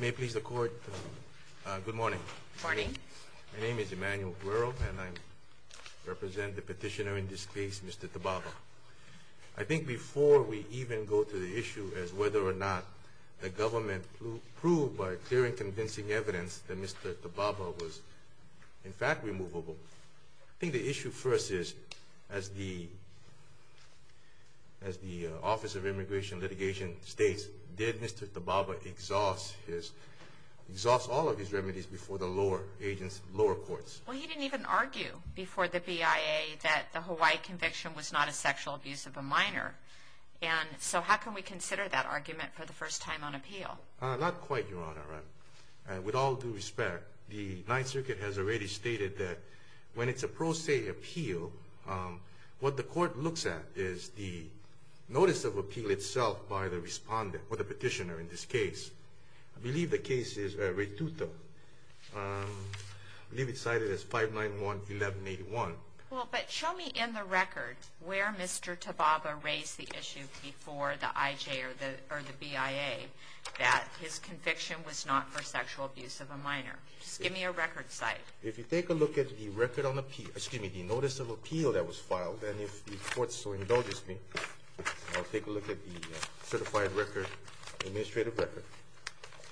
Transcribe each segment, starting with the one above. May it please the Court, good morning. Good morning. My name is Emmanuel Guerro and I represent the petitioner in this case, Mr. Tababa. I think before we even go to the issue as whether or not the government proved by clear and convincing evidence that Mr. Tababa was in fact removable, I think the issue first is as the Office of Immigration and Litigation states, did Mr. Tababa exhaust all of his remedies before the lower agents, lower courts? Well, he didn't even argue before the BIA that the Hawaii conviction was not a sexual abuse of a minor. And so how can we consider that argument for the first time on appeal? Not quite, Your Honor, with all due respect. The Ninth Circuit has already stated that when it's a pro se appeal, what the court looks at is the notice of appeal itself by the respondent or the petitioner in this case. I believe the case is Ratuta. I believe it's cited as 591-1181. Well, but show me in the record where Mr. Tababa raised the issue before the IJ or the BIA that his conviction was not for sexual abuse of a minor. Just give me a record cite. If you take a look at the record on appeal, excuse me, the notice of appeal that was filed, and if the court still indulges me, I'll take a look at the certified record, administrative record.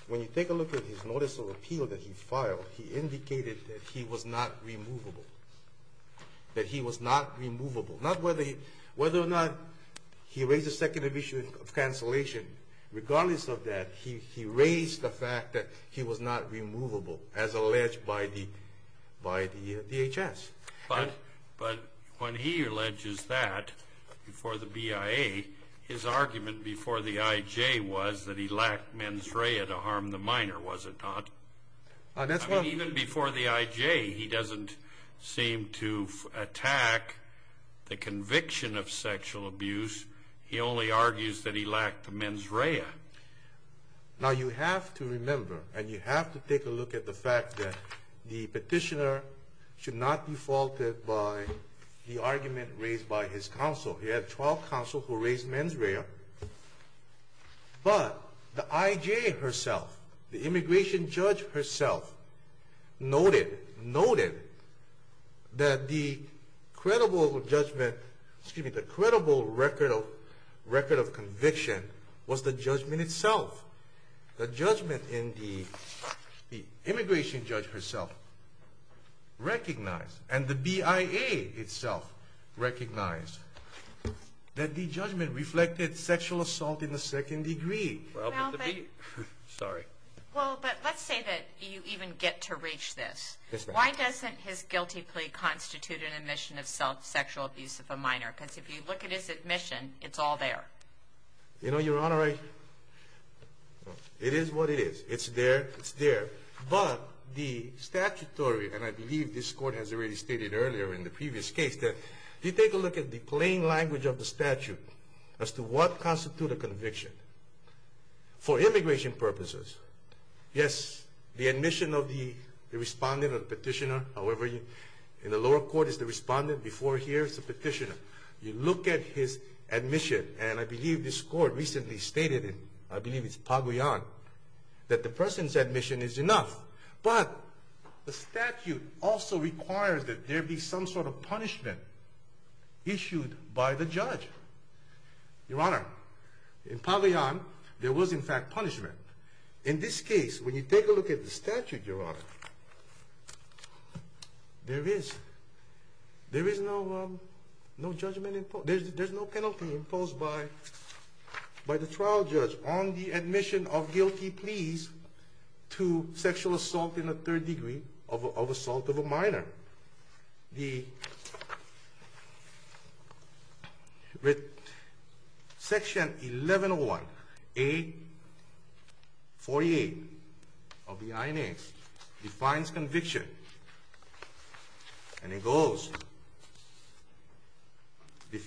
When you take a look at his notice of appeal that he filed, he indicated that he was not removable. That he was not removable. Not whether or not he raised the second issue of cancellation. Regardless of that, he raised the fact that he was not removable as alleged by the DHS. But when he alleges that for the BIA, his argument before the IJ was that he lacked mens rea to harm the minor, was it not? Even before the IJ, he doesn't seem to attack the conviction of sexual abuse. He only argues that he lacked the mens rea. Now you have to remember, and you have to take a look at the fact that the petitioner should not be faulted by the argument raised by his counsel. He had 12 counsel who raised mens rea. But the IJ herself, the immigration judge herself, noted that the credible judgment, excuse me, the credible record of conviction was the judgment itself. The judgment in the immigration judge herself recognized, and the BIA itself recognized, that the judgment reflected sexual assault in the second degree. But let's say that you even get to reach this. Why doesn't his guilty plea constitute an admission of self sexual abuse of a minor? Because if you look at his admission, it's all there. You know, Your Honor, it is what it is. It's there. It's there. But the statutory, and I believe this Court has already stated earlier in the previous case, that you take a look at the plain language of the statute as to what constitutes a conviction. For immigration purposes, yes, the admission of the respondent or the petitioner. However, in the lower court, it's the respondent. Before here, it's the petitioner. You look at his admission, and I believe this Court recently stated, and I believe it's Pagayan, that the person's admission is enough. But the statute also requires that there be some sort of punishment issued by the judge. Your Honor, in Pagayan, there was, in fact, punishment. In this case, when you take a look at the statute, Your Honor, there is. There is no judgment imposed. There's no penalty imposed by the trial judge on the admission of guilty pleas to sexual assault in the third degree of assault of a minor. With Section 1101A.48 of the INA, it defines conviction, and it goes,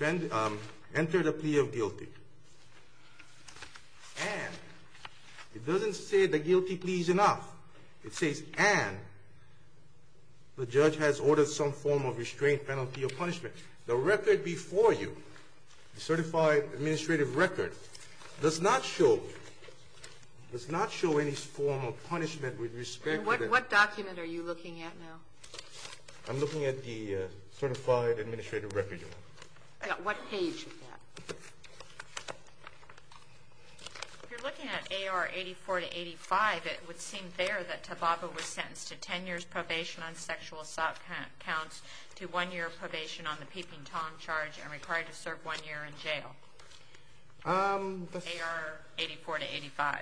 enter the plea of guilty. And it doesn't say the guilty plea is enough. It says, and the judge has ordered some form of restraint, penalty, or punishment. The record before you, the certified administrative record, does not show any form of punishment with respect to the ---- And what document are you looking at now? I'm looking at the certified administrative record, Your Honor. What page is that? If you're looking at AR 84 to 85, it would seem there that Tababa was sentenced to 10 years probation on sexual assault counts, to one year probation on the peeping tom charge, and required to serve one year in jail. AR 84 to 85.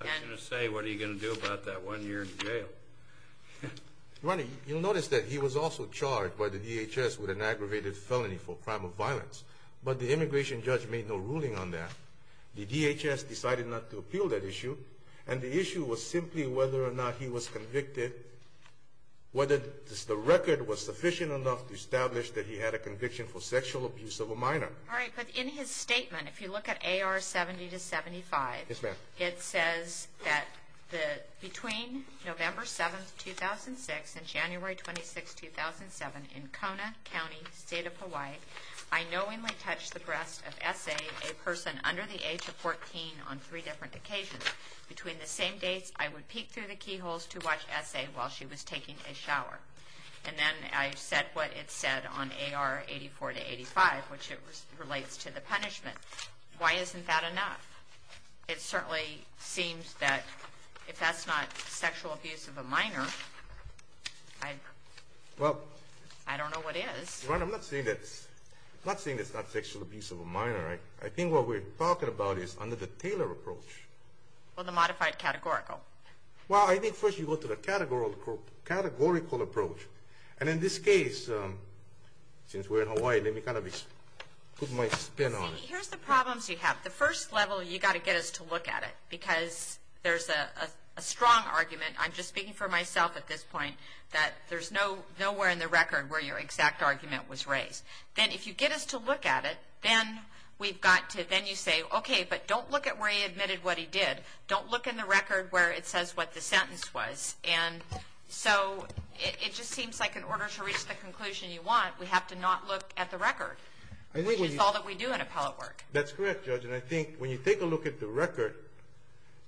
I was going to say, what are you going to do about that one year in jail? Your Honor, you'll notice that he was also charged by the DHS with an aggravated felony for a crime of violence, but the immigration judge made no ruling on that. The DHS decided not to appeal that issue, and the issue was simply whether or not he was convicted, whether the record was sufficient enough to establish that he had a conviction for sexual abuse of a minor. All right, but in his statement, if you look at AR 70 to 75, it says that between November 7, 2006, and January 26, 2007, in Kona County, state of Hawaii, I knowingly touched the breast of S.A., a person under the age of 14, on three different occasions. Between the same dates, I would peek through the keyholes to watch S.A. while she was taking a shower. And then I said what it said on AR 84 to 85, which relates to the punishment. Why isn't that enough? It certainly seems that if that's not sexual abuse of a minor, I don't know what is. Your Honor, I'm not saying it's not sexual abuse of a minor. I think what we're talking about is under the Taylor approach. Well, the modified categorical. Well, I think first you go to the categorical approach. And in this case, since we're in Hawaii, let me kind of put my spin on it. Here's the problems you have. The first level, you've got to get us to look at it because there's a strong argument. I'm just speaking for myself at this point that there's nowhere in the record where your exact argument was raised. Then if you get us to look at it, then you say, okay, but don't look at where he admitted what he did. Don't look in the record where it says what the sentence was. And so it just seems like in order to reach the conclusion you want, we have to not look at the record, which is all that we do in appellate work. That's correct, Judge. And I think when you take a look at the record,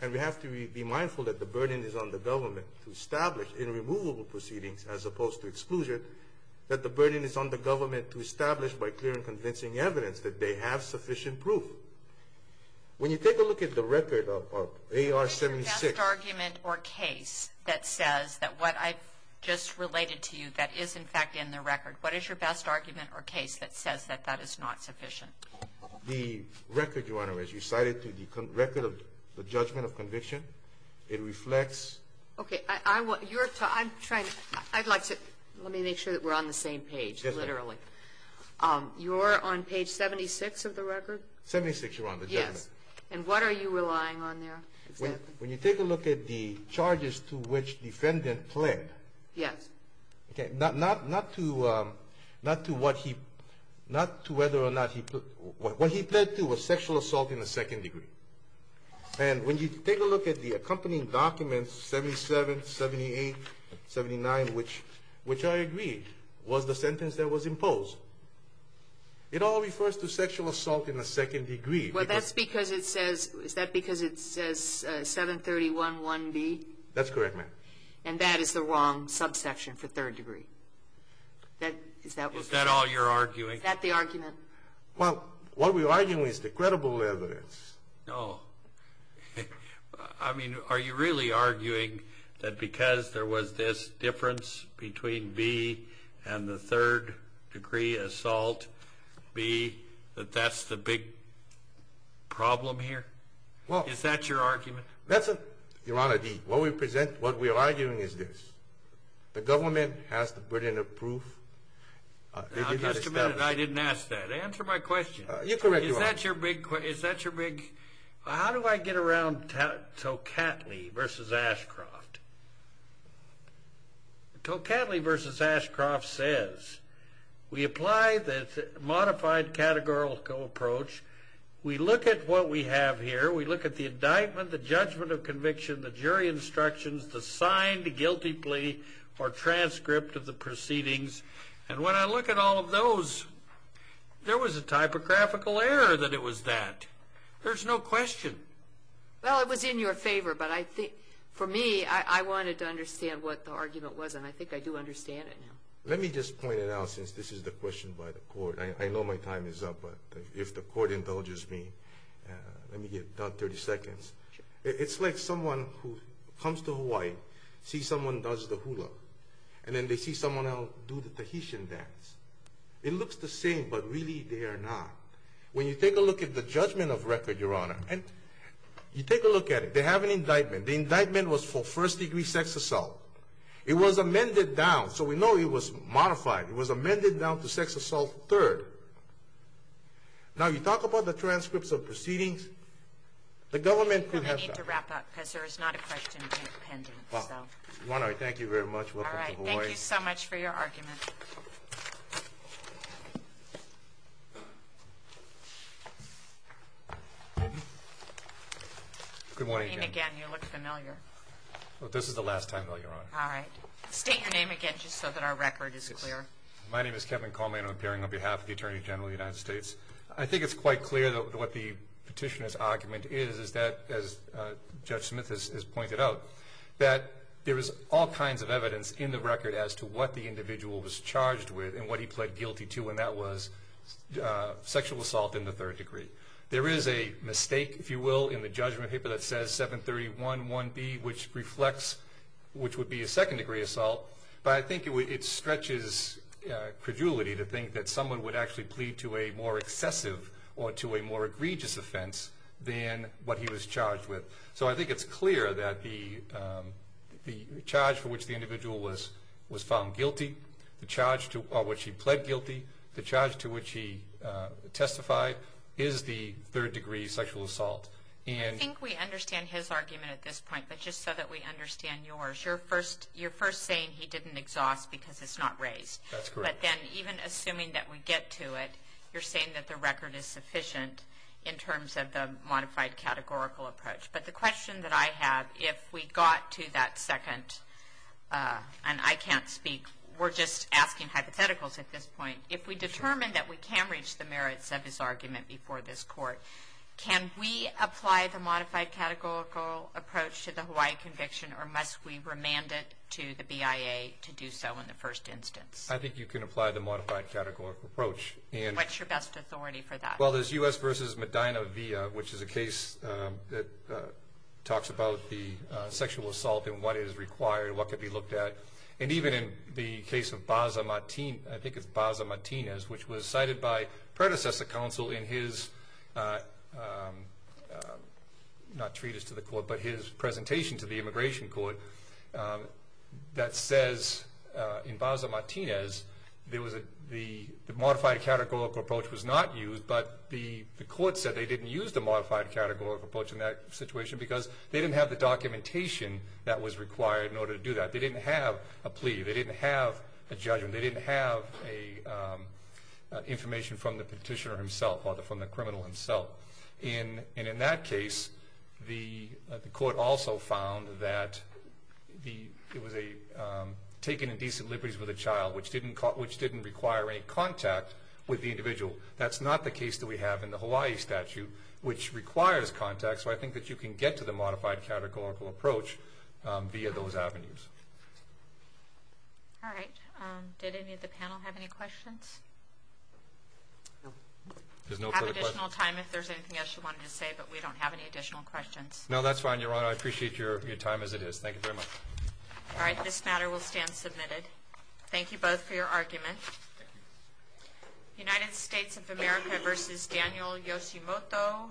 and we have to be mindful that the burden is on the government to establish inremovable proceedings as opposed to exclusion, that the burden is on the government to establish by clear and convincing evidence that they have sufficient proof. When you take a look at the record of AR-76. What is your best argument or case that says that what I've just related to you that is, in fact, in the record? What is your best argument or case that says that that is not sufficient? The record, Your Honor, as you cited to the record of the judgment of conviction, it reflects. Okay. I'm trying to. I'd like to. Let me make sure that we're on the same page, literally. You're on page 76 of the record? 76, Your Honor. Yes. And what are you relying on there? When you take a look at the charges to which defendant pled. Yes. Okay. Not to what he, not to whether or not he, what he pled to was sexual assault in the second degree. And when you take a look at the accompanying documents, 77, 78, 79, which I agree was the sentence that was imposed, it all refers to sexual assault in the second degree. Well, that's because it says, is that because it says 731.1b? That's correct, ma'am. And that is the wrong subsection for third degree. Is that what? Is that all you're arguing? Is that the argument? Well, what we're arguing is the credible evidence. No. I mean, are you really arguing that because there was this difference between b and the third degree assault, b, that that's the big problem here? Well. Is that your argument? That's it, Your Honor. What we are arguing is this. The government has to put in a proof. Now, just a minute. I didn't ask that. Answer my question. You're correct, Your Honor. Is that your big, how do I get around Tocatli v. Ashcroft? Tocatli v. Ashcroft says, we apply the modified categorical approach. We look at what we have here. We look at the indictment, the judgment of conviction, the jury instructions, the signed guilty plea, or transcript of the proceedings. And when I look at all of those, there was a typographical error that it was that. There's no question. Well, it was in your favor. But for me, I wanted to understand what the argument was, and I think I do understand it now. Let me just point it out, since this is the question by the court. I know my time is up. But if the court indulges me, let me get 30 seconds. It's like someone who comes to Hawaii, sees someone does the hula, and then they see someone else do the Tahitian dance. It looks the same, but really they are not. When you take a look at the judgment of record, Your Honor, you take a look at it. They have an indictment. The indictment was for first-degree sex assault. It was amended down. So we know it was modified. It was amended down to sex assault third. Now, you talk about the transcripts of proceedings. The government could have done that. Well, I need to wrap up because there is not a question pending. Thank you very much. Welcome to Hawaii. Thank you so much for your argument. Good morning again. You look familiar. This is the last time, Your Honor. All right. State your name again just so that our record is clear. My name is Kevin Coleman. I'm appearing on behalf of the Attorney General of the United States. I think it's quite clear what the petitioner's argument is, as Judge Smith has pointed out, that there is all kinds of evidence in the record as to what the individual was charged with and what he pled guilty to, and that was sexual assault in the third degree. There is a mistake, if you will, in the judgment paper that says 731.1b, which would be a second-degree assault, but I think it stretches credulity to think that someone would actually plead to a more excessive or to a more egregious offense than what he was charged with. So I think it's clear that the charge for which the individual was found guilty, the charge to which he pled guilty, the charge to which he testified, is the third-degree sexual assault. I think we understand his argument at this point, but just so that we understand yours, you're first saying he didn't exhaust because it's not raised. That's correct. But then even assuming that we get to it, you're saying that the record is sufficient in terms of the modified categorical approach. But the question that I have, if we got to that second, and I can't speak, we're just asking hypotheticals at this point, if we determine that we can reach the merits of his argument before this Court, can we apply the modified categorical approach to the Hawaii conviction or must we remand it to the BIA to do so in the first instance? I think you can apply the modified categorical approach. What's your best authority for that? Well, there's U.S. v. Medina-Villa, which is a case that talks about the sexual assault and what is required, what could be looked at. And even in the case of Baza Martinez, which was cited by predecessor counsel in his presentation to the Immigration Court that says in Baza Martinez the modified categorical approach was not used, but the court said they didn't use the modified categorical approach in that situation because they didn't have the documentation that was required in order to do that. They didn't have a plea. They didn't have a judgment. They didn't have information from the petitioner himself or from the criminal himself. And in that case, the court also found that it was a taking indecent liberties with a child, which didn't require any contact with the individual. That's not the case that we have in the Hawaii statute, which requires contact. So I think that you can get to the modified categorical approach via those avenues. All right. Did any of the panel have any questions? No. There's no further questions. We'll have additional time if there's anything else you wanted to say, but we don't have any additional questions. No, that's fine, Your Honor. I appreciate your time as it is. Thank you very much. All right. This matter will stand submitted. Thank you both for your argument. Thank you. United States of America v. Daniel Yoshimoto, 11-10151.